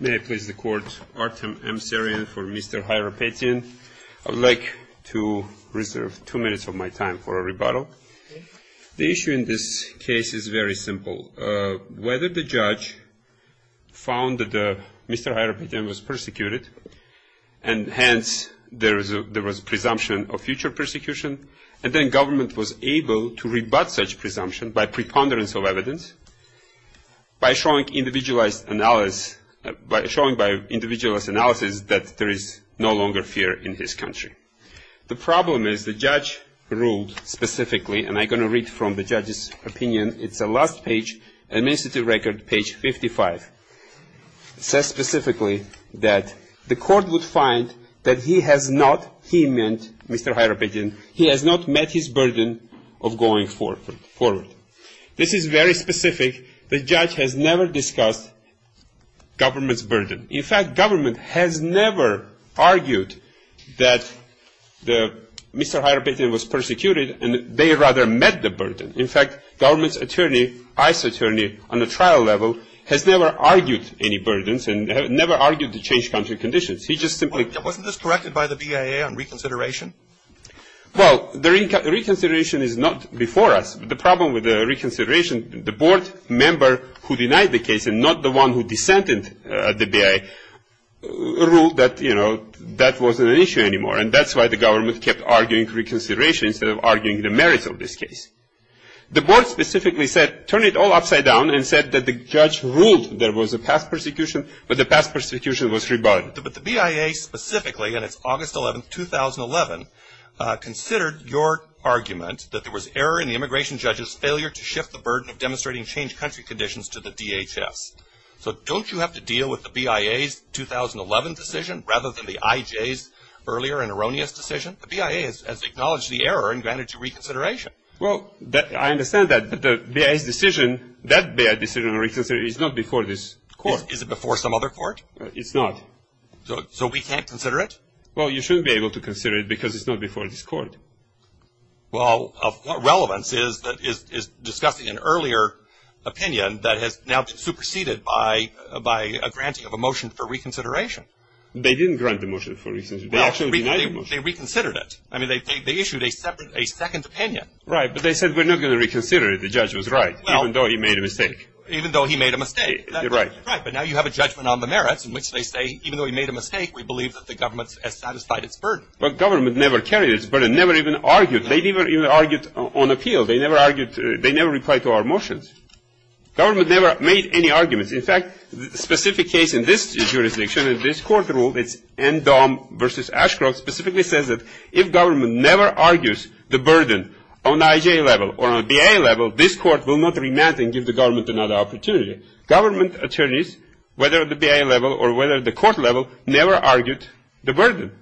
May I please the court, Artem Emserian for Mr. Hayrapetyan. I would like to reserve two minutes of my time for a rebuttal. The issue in this case is very simple. Whether the judge found that Mr. Hayrapetyan was persecuted, and hence there was a presumption of future persecution, and then government was able to rebut such presumption by preponderance of evidence, by showing individualized analysis that there is no longer fear in this country. The problem is the judge ruled specifically, and I'm going to read from the judge's opinion. It's the last page, administrative record, page 55. It says specifically that the court would find that he has not, he meant Mr. Hayrapetyan, he has not met his burden of going forward. This is very specific. The judge has never discussed government's burden. In fact, government has never argued that Mr. Hayrapetyan was persecuted, and they rather met the burden. In fact, government's attorney, ICE attorney on the trial level, has never argued any burdens and never argued to change country conditions. He just simply- Wasn't this corrected by the BIA on reconsideration? Well, the reconsideration is not before us. The problem with the reconsideration, the board member who denied the case and not the one who dissented the BIA, ruled that, you know, that wasn't an issue anymore. And that's why the government kept arguing reconsideration instead of arguing the merits of this case. The board specifically said, turn it all upside down, and said that the judge ruled there was a past persecution, but the past persecution was rebarred. But the BIA specifically, and it's August 11, 2011, considered your argument that there was error in the immigration judge's failure to shift the burden of demonstrating change country conditions to the DHS. So don't you have to deal with the BIA's 2011 decision rather than the IJ's earlier and erroneous decision? The BIA has acknowledged the error and granted you reconsideration. Well, I understand that the BIA's decision, that BIA decision on reconsideration is not before this court. Is it before some other court? It's not. So we can't consider it? Well, you shouldn't be able to consider it because it's not before this court. Well, what relevance is discussing an earlier opinion that has now superseded by a granting of a motion for reconsideration? They didn't grant the motion for reconsideration. They actually denied the motion. They reconsidered it. I mean, they issued a second opinion. Right, but they said we're not going to reconsider it. The judge was right, even though he made a mistake. Even though he made a mistake. Right. Right, but now you have a judgment on the merits in which they say even though he made a mistake, we believe that the government has satisfied its burden. Well, government never carried its burden, never even argued. They never even argued on appeal. They never argued. They never replied to our motions. Government never made any arguments. In fact, the specific case in this jurisdiction, in this court rule, it's NDOM versus Ashcroft, specifically says that if government never argues the burden on IJ level or on BIA level, this court will not remand and give the government another opportunity. Government attorneys, whether at the BIA level or whether at the court level, never argued the burden.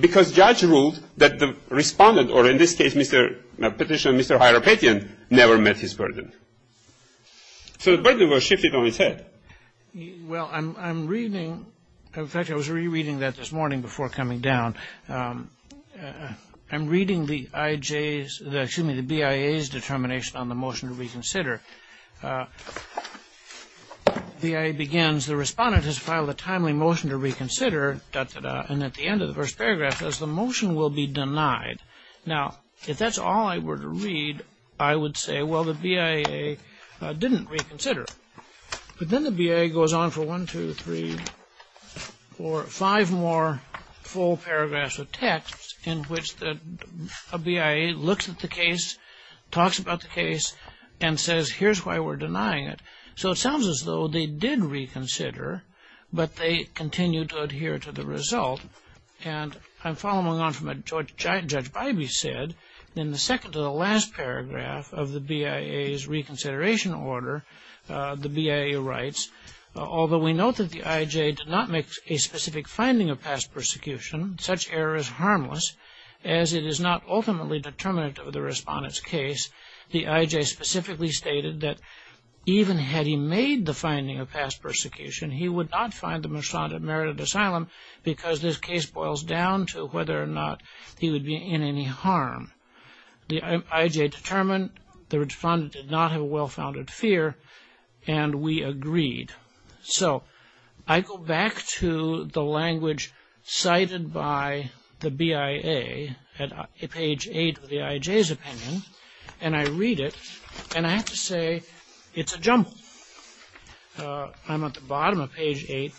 Because judge ruled that the respondent, or in this case Mr. Petitioner, Mr. Hieropatian, never met his burden. So the burden was shifted on his head. Well, I'm reading, in fact, I was rereading that this morning before coming down. I'm reading the BIA's determination on the motion to reconsider. BIA begins, the respondent has filed a timely motion to reconsider, and at the end of the first paragraph says the motion will be denied. Now, if that's all I were to read, I would say, well, the BIA didn't reconsider. But then the BIA goes on for one, two, three, four, five more full paragraphs of text in which a BIA looks at the case, talks about the case, and says, here's why we're denying it. So it sounds as though they did reconsider, but they continue to adhere to the result. And I'm following on from what Judge Bybee said, in the second to the last paragraph of the BIA's reconsideration order, the BIA writes, although we note that the IJ did not make a specific finding of past persecution, such error is harmless, as it is not ultimately determinate of the respondent's case. The IJ specifically stated that even had he made the finding of past persecution, he would not find the respondent merited asylum, because this case boils down to whether or not he would be in any harm. The IJ determined the respondent did not have a well-founded fear, and we agreed. So I go back to the language cited by the BIA at page eight of the IJ's opinion, and I read it, and I have to say, it's a jumble. I'm at the bottom of page eight.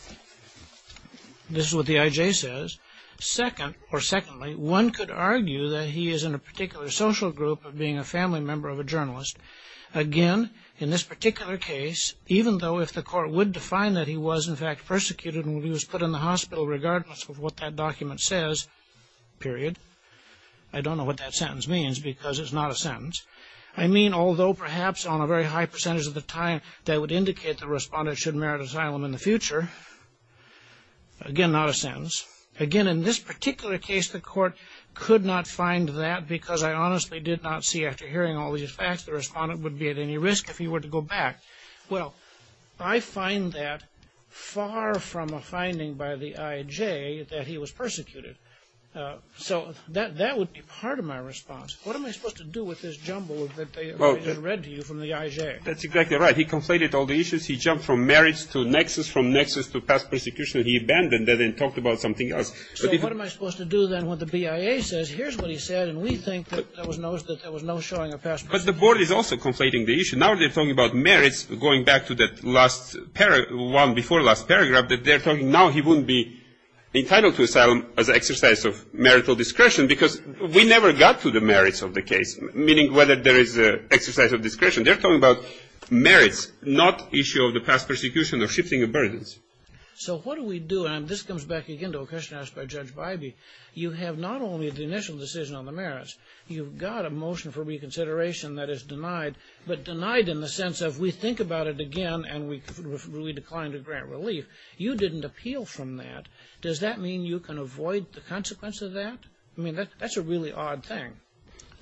This is what the IJ says. Secondly, one could argue that he is in a particular social group of being a family member of a journalist. Again, in this particular case, even though if the court would define that he was, in fact, persecuted and he was put in the hospital regardless of what that document says, period. I don't know what that sentence means, because it's not a sentence. I mean, although perhaps on a very high percentage of the time, that would indicate the respondent should merit asylum in the future. Again, not a sentence. Again, in this particular case, the court could not find that, because I honestly did not see, after hearing all these facts, the respondent would be at any risk if he were to go back. Well, I find that far from a finding by the IJ that he was persecuted. So that would be part of my response. What am I supposed to do with this jumble that they read to you from the IJ? That's exactly right. He conflated all the issues. He jumped from merits to nexus, from nexus to past persecution. He abandoned that and talked about something else. So what am I supposed to do, then, with what the BIA says? Here's what he said, and we think that there was no showing of past persecution. But the board is also conflating the issue. Now they're talking about merits, going back to that one before last paragraph, that they're talking now he wouldn't be entitled to asylum as an exercise of marital discretion, because we never got to the merits of the case, meaning whether there is an exercise of discretion. They're talking about merits, not issue of the past persecution or shifting of burdens. So what do we do? And this comes back again to a question asked by Judge Bybee. You have not only the initial decision on the merits, you've got a motion for reconsideration that is denied, but denied in the sense of we think about it again and we decline to grant relief. You didn't appeal from that. Does that mean you can avoid the consequence of that? I mean, that's a really odd thing.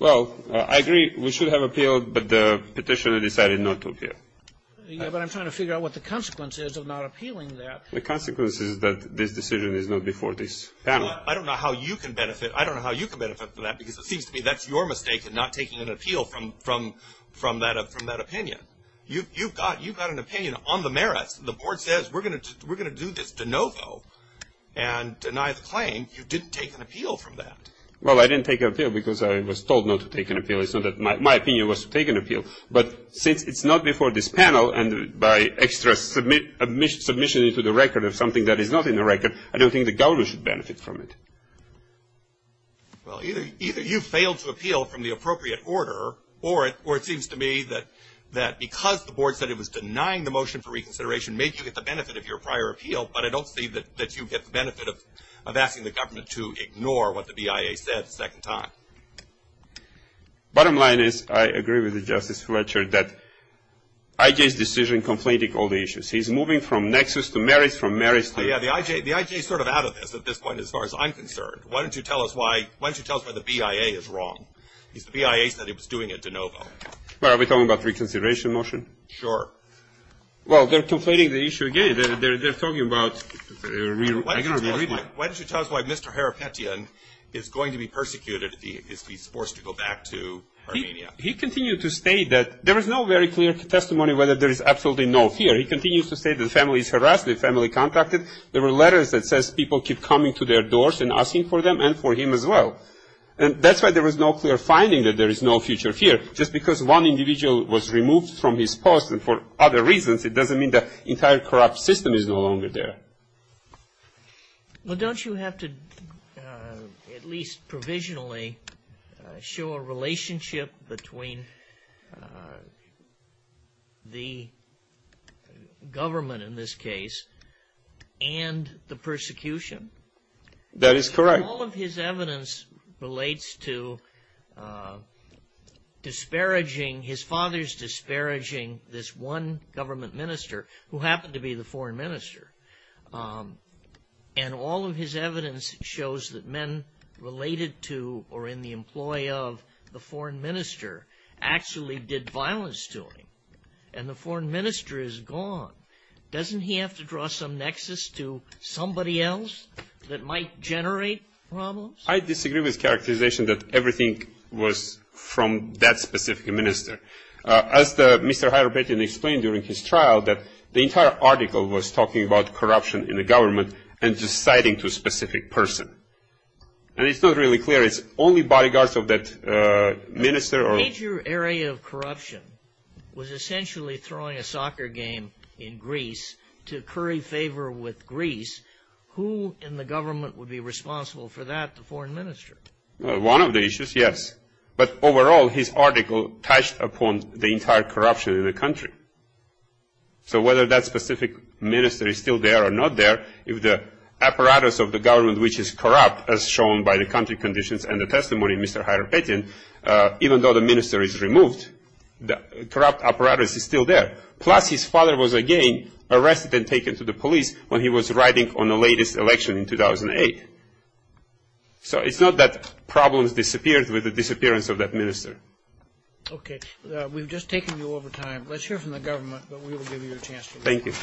Well, I agree we should have appealed, but the petitioner decided not to appeal. Yeah, but I'm trying to figure out what the consequence is of not appealing that. The consequence is that this decision is not before this panel. I don't know how you can benefit from that, because it seems to me that's your mistake in not taking an appeal from that opinion. You've got an opinion on the merits. The board says we're going to do this de novo and deny the claim. You didn't take an appeal from that. Well, I didn't take an appeal because I was told not to take an appeal. It's not that my opinion was to take an appeal. But since it's not before this panel and by extra submission into the record of something that is not in the record, I don't think the government should benefit from it. Well, either you failed to appeal from the appropriate order, or it seems to me that because the board said it was denying the motion for reconsideration and made you get the benefit of your prior appeal, but I don't see that you get the benefit of asking the government to ignore what the BIA said a second time. Bottom line is I agree with the Justice Fletcher that I.J.'s decision conflating all the issues. He's moving from nexus to merits, from merits to merits. Yeah, the I.J. is sort of out of this at this point as far as I'm concerned. Why don't you tell us why the BIA is wrong? Because the BIA said it was doing it de novo. Are we talking about reconsideration motion? Sure. Well, they're conflating the issue again. They're talking about – Why don't you tell us why Mr. Harapetian is going to be persecuted if he's forced to go back to Armenia? He continued to state that there is no very clear testimony whether there is absolutely no fear. He continues to say that the family is harassed, the family contracted. There were letters that says people keep coming to their doors and asking for them and for him as well. And that's why there was no clear finding that there is no future fear. Just because one individual was removed from his post and for other reasons, it doesn't mean the entire corrupt system is no longer there. Well, don't you have to at least provisionally show a relationship between the government in this case and the persecution? That is correct. All of his evidence relates to disparaging – his father is disparaging this one government minister who happened to be the foreign minister. And all of his evidence shows that men related to or in the employ of the foreign minister actually did violence to him. And the foreign minister is gone. Doesn't he have to draw some nexus to somebody else that might generate problems? I disagree with the characterization that everything was from that specific minister. As Mr. Hayropetian explained during his trial, that the entire article was talking about corruption in the government and deciding to a specific person. And it's not really clear. It's only bodyguards of that minister. The major area of corruption was essentially throwing a soccer game in Greece to curry favor with Greece. Who in the government would be responsible for that, the foreign minister? One of the issues, yes. But overall, his article touched upon the entire corruption in the country. So whether that specific minister is still there or not there, if the apparatus of the government which is corrupt, as shown by the country conditions and the testimony of Mr. Hayropetian, even though the minister is removed, the corrupt apparatus is still there. Plus, his father was again arrested and taken to the police when he was riding on the latest election in 2008. So it's not that problems disappeared with the disappearance of that minister. Okay. We've just taken you over time. Let's hear from the government, but we will give you a chance to respond. Thank you.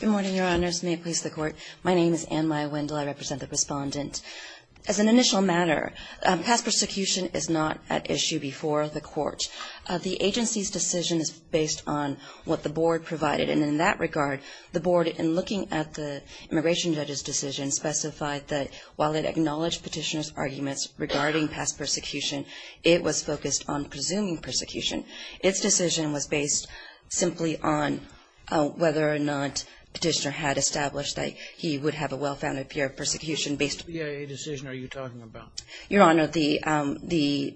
Good morning, Your Honors. May it please the Court. My name is Anne-Maya Wendell. I represent the Respondent. As an initial matter, past persecution is not at issue before the Court. The agency's decision is based on what the Board provided. And in that regard, the Board, in looking at the immigration judge's decision, specified that while it acknowledged petitioner's arguments regarding past persecution, it was focused on presuming persecution. Its decision was based simply on whether or not petitioner had established that he would have a well-founded fear of persecution. What BIA decision are you talking about? Your Honor, the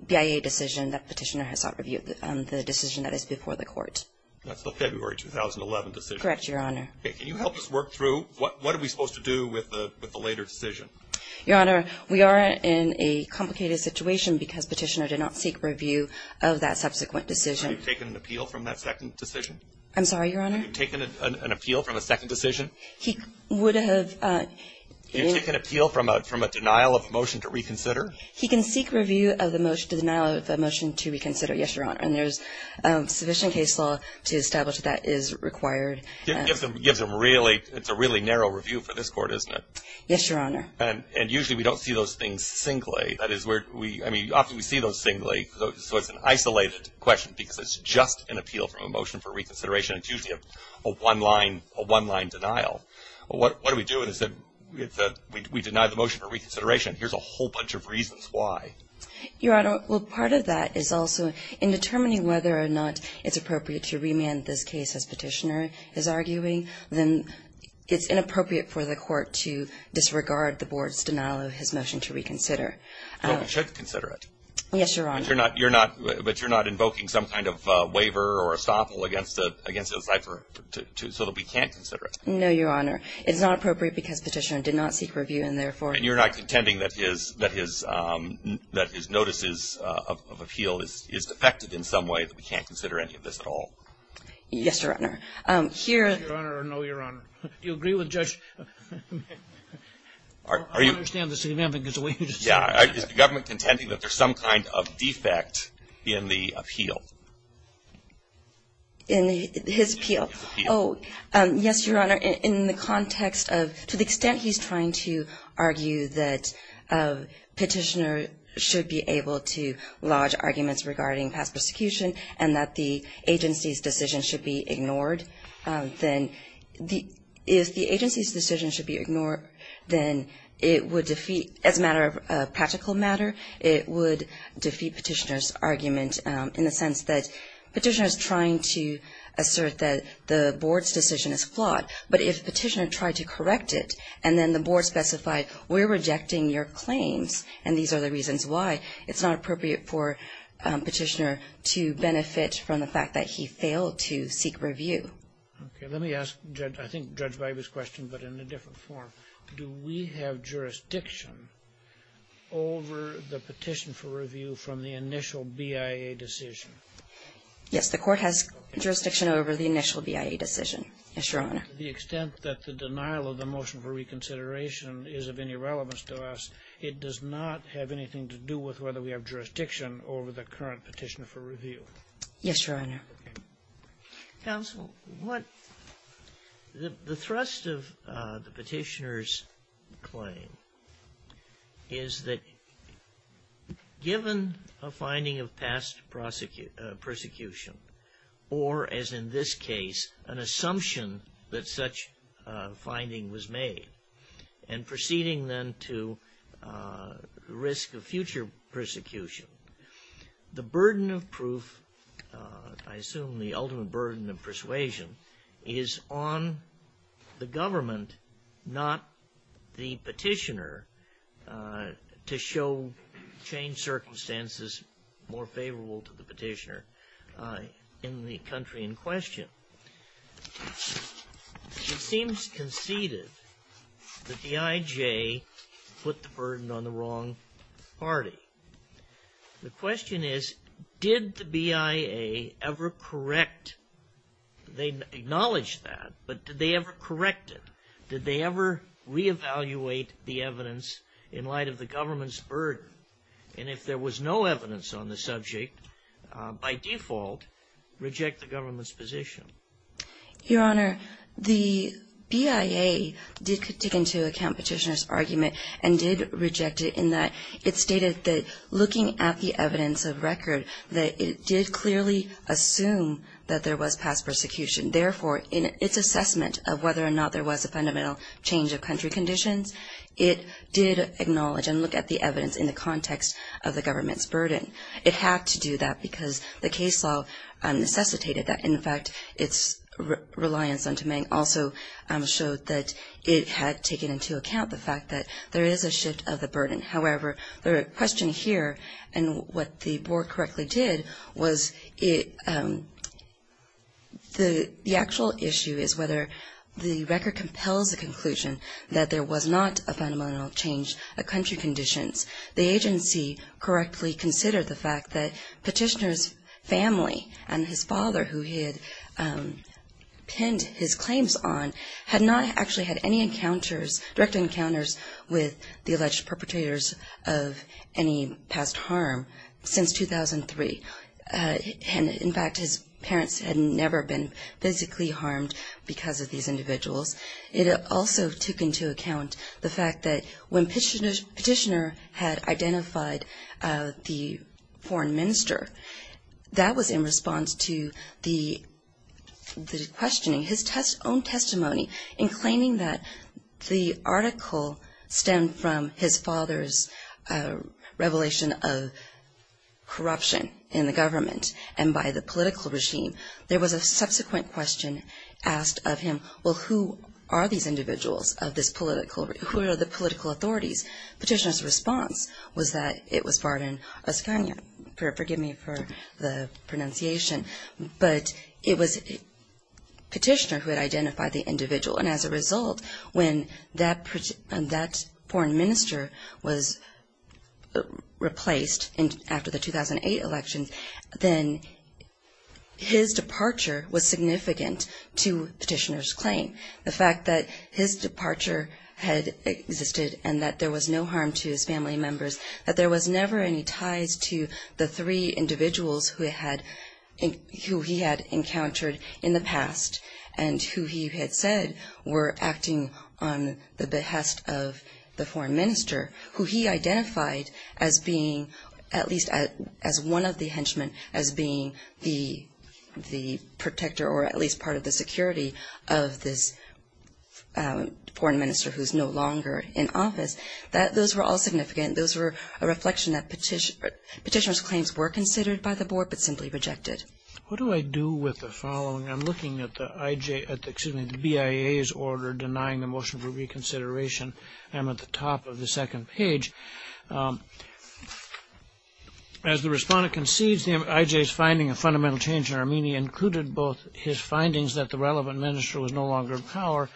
BIA decision that petitioner has sought review, the decision that is before the Court. That's the February 2011 decision? Correct, Your Honor. Okay. Can you help us work through what are we supposed to do with the later decision? Your Honor, we are in a complicated situation because petitioner did not seek review of that subsequent decision. Have you taken an appeal from that second decision? I'm sorry, Your Honor? Have you taken an appeal from a second decision? He would have. Have you taken an appeal from a denial of motion to reconsider? He can seek review of the denial of a motion to reconsider, yes, Your Honor. And there's sufficient case law to establish that is required. It's a really narrow review for this Court, isn't it? Yes, Your Honor. And usually we don't see those things singly. That is where we – I mean, often we see those singly, so it's an isolated question because it's just an appeal from a motion for reconsideration. It's usually a one-line denial. What do we do? We deny the motion for reconsideration. Here's a whole bunch of reasons why. Your Honor, well, part of that is also in determining whether or not it's appropriate to remand this case, as Petitioner is arguing. Then it's inappropriate for the Court to disregard the Board's denial of his motion to reconsider. Well, we should consider it. Yes, Your Honor. But you're not invoking some kind of waiver or estoppel against it, so that we can't consider it? No, Your Honor. It's not appropriate because Petitioner did not seek review, and therefore – And you're not contending that his notices of appeal is defected in some way, that we can't consider any of this at all? Yes, Your Honor. Here – Yes, Your Honor, or no, Your Honor. Do you agree with Judge – I understand the significance of what you just said. Yeah. Is the government contending that there's some kind of defect in the appeal? In his appeal? Yes, Your Honor. In the context of – to the extent he's trying to argue that Petitioner should be able to lodge arguments regarding past persecution and that the agency's decision should be ignored, then if the agency's decision should be ignored, then it would defeat – as a matter of practical matter, it would defeat Petitioner's argument in the sense that Petitioner is trying to assert that the Board's decision is flawed. But if Petitioner tried to correct it and then the Board specified, we're rejecting your claims and these are the reasons why, it's not appropriate for Petitioner to benefit from the fact that he failed to seek review. Okay. Let me ask, I think, Judge Viba's question, but in a different form. Do we have jurisdiction over the petition for review from the initial BIA decision? Yes, the Court has jurisdiction over the initial BIA decision, yes, Your Honor. To the extent that the denial of the motion for reconsideration is of any relevance to us, it does not have anything to do with whether we have jurisdiction over the current petition for review. Yes, Your Honor. Counsel, what – the thrust of the Petitioner's claim is that given a finding of past persecution, or as in this case, an assumption that such a finding was made, and proceeding then to risk of future persecution, the burden of proof, I assume the ultimate burden of persuasion, is on the government, not the Petitioner, to show changed circumstances more favorable to the Petitioner in the country in question. It seems conceded that the IJ put the burden on the wrong party. The question is, did the BIA ever correct – they acknowledge that, but did they ever correct it? Did they ever reevaluate the evidence in light of the government's burden? And if there was no evidence on the subject, by default, reject the government's position? Your Honor, the BIA did dig into a count Petitioner's argument and did reject it in that it stated that looking at the evidence of record, that it did clearly assume that there was Therefore, in its assessment of whether or not there was a fundamental change of country conditions, it did acknowledge and look at the evidence in the context of the government's burden. It had to do that because the case law necessitated that. In fact, its reliance on Tumeng also showed that it had taken into account the fact that there is a shift of the burden. However, the question here and what the Board correctly did was the actual issue is whether the record compels the conclusion that there was not a fundamental change of country conditions. The agency correctly considered the fact that Petitioner's family and his father, who he had penned his claims on, had not actually had any encounters, direct encounters with the alleged perpetrators of any past harm since 2003. In fact, his parents had never been physically harmed because of these individuals. It also took into account the fact that when Petitioner had identified the foreign minister, that was in response to the questioning. His own testimony in claiming that the article stemmed from his father's revelation of corruption in the government and by the political regime, there was a subsequent question asked of him, well, who are these individuals of this political, who are the political authorities? Petitioner's response was that it was Vardan Oskanyan, forgive me for the pronunciation, but it was Petitioner who had identified the individual. And as a result, when that foreign minister was replaced after the 2008 election, then his departure was significant to Petitioner's claim. The fact that his departure had existed and that there was no harm to his family members, that there was never any ties to the three individuals who he had encountered in the past and who he had said were acting on the behest of the foreign minister, who he identified as being at least as one of the henchmen, as being the protector or at least part of the security of this foreign minister who is no longer in office, those were all significant. Those were a reflection that Petitioner's claims were considered by the board but simply rejected. What do I do with the following? I'm looking at the BIA's order denying the motion for reconsideration. I'm at the top of the second page. As the respondent concedes, IJ's finding of fundamental change in Armenia included both his findings that the relevant minister was no longer in power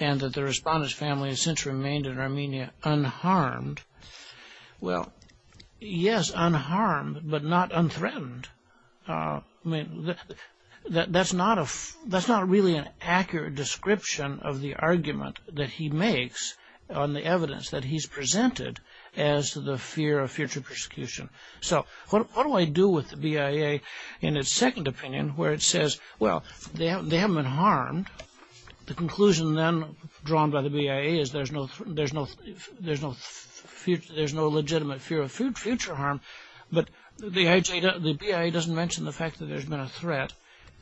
and that the respondent's family has since remained in Armenia unharmed. Well, yes, unharmed, but not unthreatened. That's not really an accurate description of the argument that he makes on the evidence that he's presented as to the fear of future persecution. So what do I do with the BIA in its second opinion where it says, well, they haven't been harmed. The conclusion then drawn by the BIA is there's no legitimate fear of future harm, but the BIA doesn't mention the fact that there's been a threat.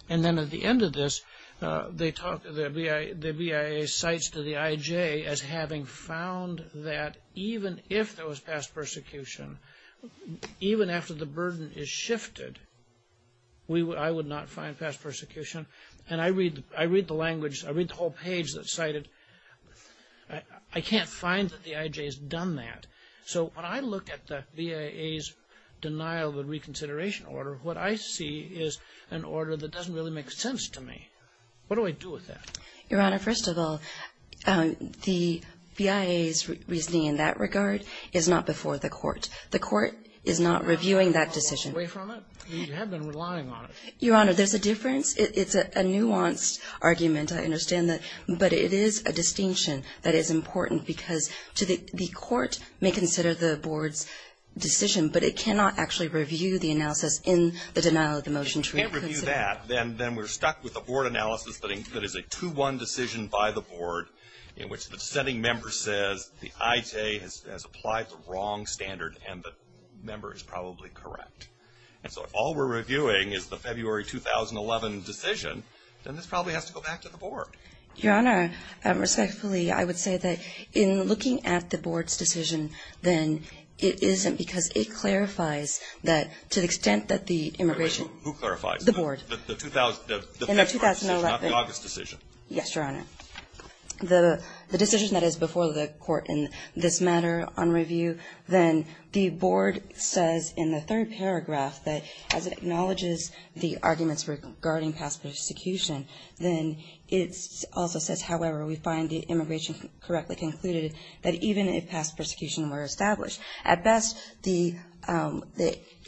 And then at the end of this, the BIA cites to the IJ as having found that even if there was past persecution, even after the burden is shifted, I would not find past persecution. And I read the language, I read the whole page that cited I can't find that the IJ has done that. So when I look at the BIA's denial of a reconsideration order, what I see is an order that doesn't really make sense to me. What do I do with that? Your Honor, first of all, the BIA's reasoning in that regard is not before the court. The court is not reviewing that decision. You have been relying on it. Your Honor, there's a difference. It's a nuanced argument. I understand that. But it is a distinction that is important because the court may consider the board's decision, but it cannot actually review the analysis in the denial of the motion to reconsider. And if that, then we're stuck with the board analysis that is a 2-1 decision by the board in which the dissenting member says the IJ has applied the wrong standard and the member is probably correct. And so if all we're reviewing is the February 2011 decision, then this probably has to go back to the board. Your Honor, respectfully, I would say that in looking at the board's decision, then it isn't because it clarifies that to the extent that the immigration the board. In the 2011 decision, not the August decision. Yes, Your Honor. The decision that is before the court in this matter on review, then the board says in the third paragraph that as it acknowledges the arguments regarding past persecution, then it also says, however, we find the immigration correctly concluded that even if past persecution were established, at best the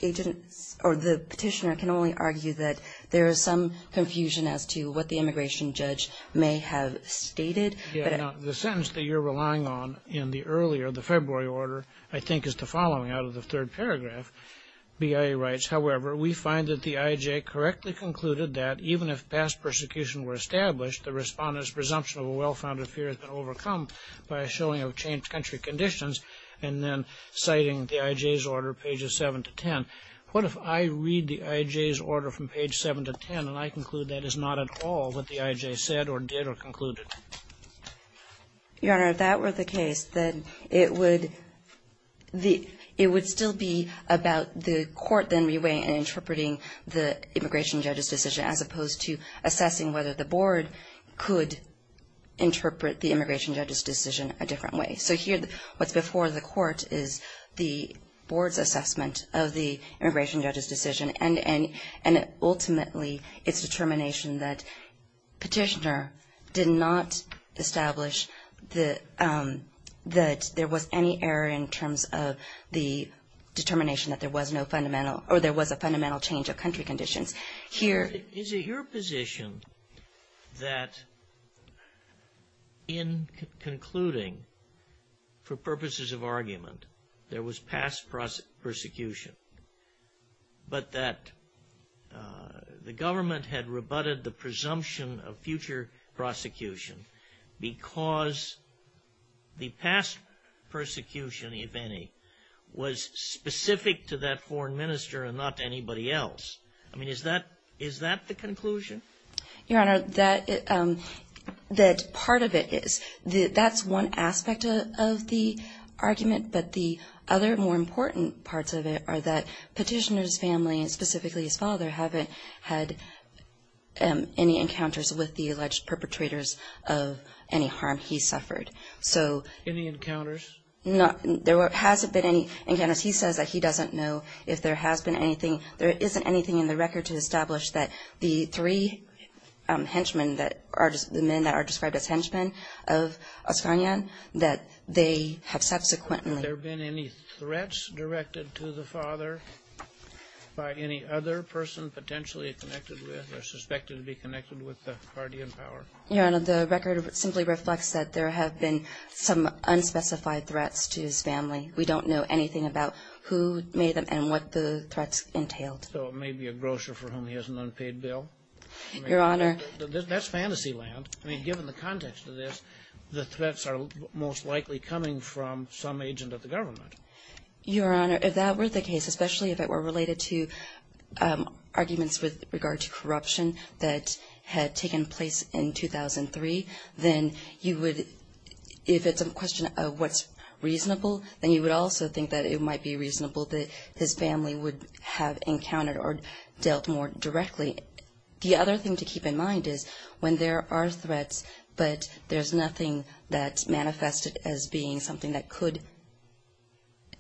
agent or the petitioner can only argue that there is some confusion as to what the immigration judge may have stated. The sentence that you're relying on in the earlier, the February order, I think is the following out of the third paragraph. BIA writes, however, we find that the IJ correctly concluded that even if past persecution were established, the respondent's presumption of a well-founded fear has been overcome by a showing of changed country conditions. And then citing the IJ's order pages 7 to 10. What if I read the IJ's order from page 7 to 10 and I conclude that is not at all what the IJ said or did or concluded? Your Honor, if that were the case, then it would still be about the court then reweighing and interpreting the immigration judge's decision as opposed to assessing whether the board could interpret the immigration judge's decision a different way. So here what's before the court is the board's assessment of the immigration judge's decision and ultimately its determination that petitioner did not establish that there was any error in terms of the determination that there was no fundamental or there was a fundamental change of country conditions. Is it your position that in concluding for purposes of argument there was past persecution but that the government had rebutted the presumption of future prosecution because the past persecution, if any, was specific to that foreign minister and not to anybody else? I mean, is that the conclusion? Your Honor, that part of it is. That's one aspect of the argument, but the other more important parts of it are that petitioner's family, specifically his father, haven't had any encounters with the alleged perpetrators of any harm he suffered. Any encounters? There hasn't been any encounters. He says that he doesn't know if there has been anything. There isn't anything in the record to establish that the three henchmen, the men that are described as henchmen of Oscanyan, that they have subsequently... Has there been any threats directed to the father by any other person potentially connected with or suspected to be connected with the party in power? Your Honor, the record simply reflects that there have been some unspecified threats to his family. We don't know anything about who made them and what the threats entailed. So it may be a grocer for whom he has an unpaid bill? Your Honor... That's fantasy land. I mean, given the context of this, the threats are most likely coming from some agent of the government. Your Honor, if that were the case, especially if it were related to arguments with regard to corruption that had taken place in 2003, then you would... If it's a question of what's reasonable, then you would also think that it might be reasonable that his family would have encountered or dealt more directly. The other thing to keep in mind is when there are threats but there's nothing that's manifested as being something that could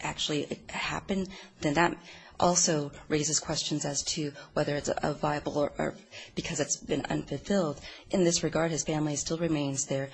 actually happen, then that also raises questions as to whether it's viable or because it's been unfulfilled. In this regard, his family still remains there.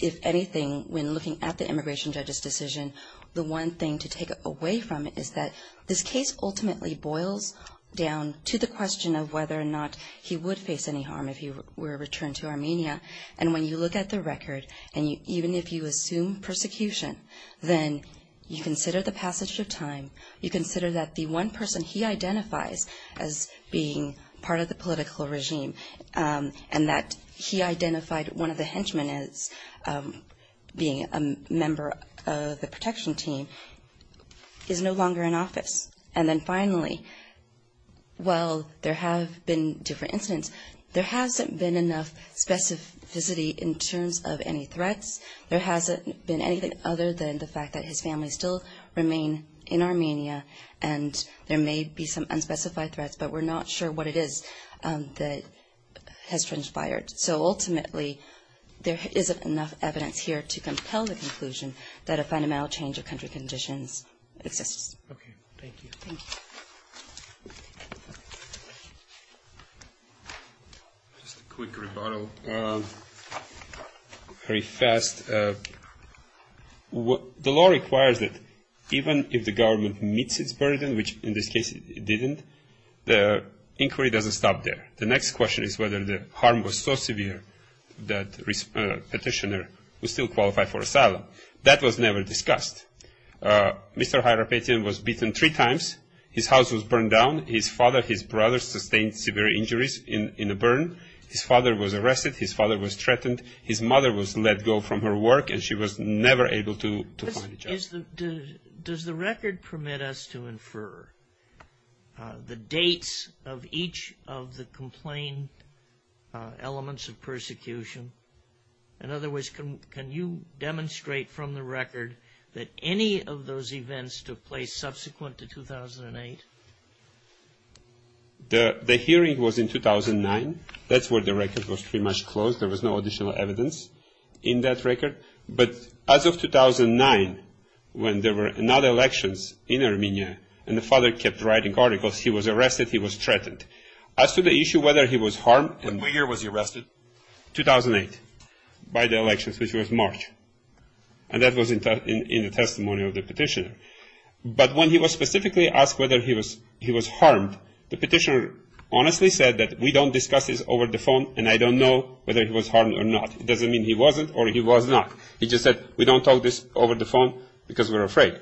If anything, when looking at the immigration judge's decision, the one thing to take away from it is that this case ultimately boils down to the question of whether or not he would face any harm if he were returned to Armenia. And when you look at the record, and even if you assume persecution, then you consider the passage of time, you consider that the one person he identifies as being part of the political regime and that he identified one of the henchmen as being a member of the protection team is no longer in office. And then finally, while there have been different incidents, there hasn't been enough specificity in terms of any threats. There hasn't been anything other than the fact that his family still remain in Armenia and there may be some unspecified threats but we're not sure what it is that has transpired. So ultimately, there isn't enough evidence here to compel the conclusion that a fundamental change of country conditions exists. Okay, thank you. Thank you. Just a quick rebuttal. Very fast. The law requires that even if the government meets its burden, which in this case it didn't, the inquiry doesn't stop there. The next question is whether the harm was so severe that the petitioner would still qualify for asylum. That was never discussed. Mr. Hayrapetyan was beaten three times. His house was burned down. His father, his brother sustained severe injuries in a burn. His father was arrested. His father was threatened. His mother was let go from her work and she was never able to find a job. Does the record permit us to infer the dates of each of the complained elements of persecution? In other words, can you demonstrate from the record that any of those events took place subsequent to 2008? The hearing was in 2009. That's where the record was pretty much closed. There was no additional evidence in that record. But as of 2009, when there were not elections in Armenia and the father kept writing articles, he was arrested, he was threatened. As to the issue whether he was harmed and What year was he arrested? 2008, by the elections, which was March. And that was in the testimony of the petitioner. But when he was specifically asked whether he was harmed, the petitioner honestly said that we don't discuss this over the phone and I don't know whether he was harmed or not. It doesn't mean he wasn't or he was not. He just said, we don't talk this over the phone because we're afraid.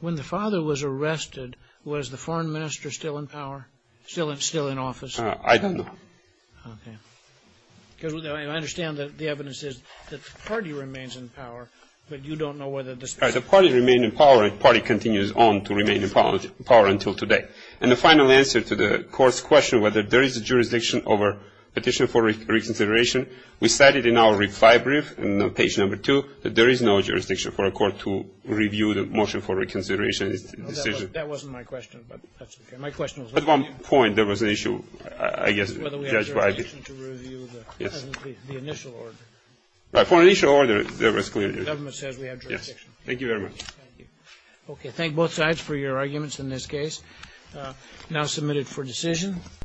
When the father was arrested, was the foreign minister still in power, still in office? I don't know. Okay. Because I understand that the evidence is that the party remains in power, but you don't know whether the party remained in power and the party continues on to remain in power until today. And the final answer to the court's question whether there is a jurisdiction over petition for reconsideration, we cited in our reply brief on page number two that there is no jurisdiction for a court to review the motion for reconsideration. That wasn't my question, but that's okay. My question was whether we have jurisdiction to review the initial order. For the initial order, there was clear jurisdiction. The government says we have jurisdiction. Yes. Thank you very much. Okay. Thank both sides for your arguments in this case. Now submitted for decision.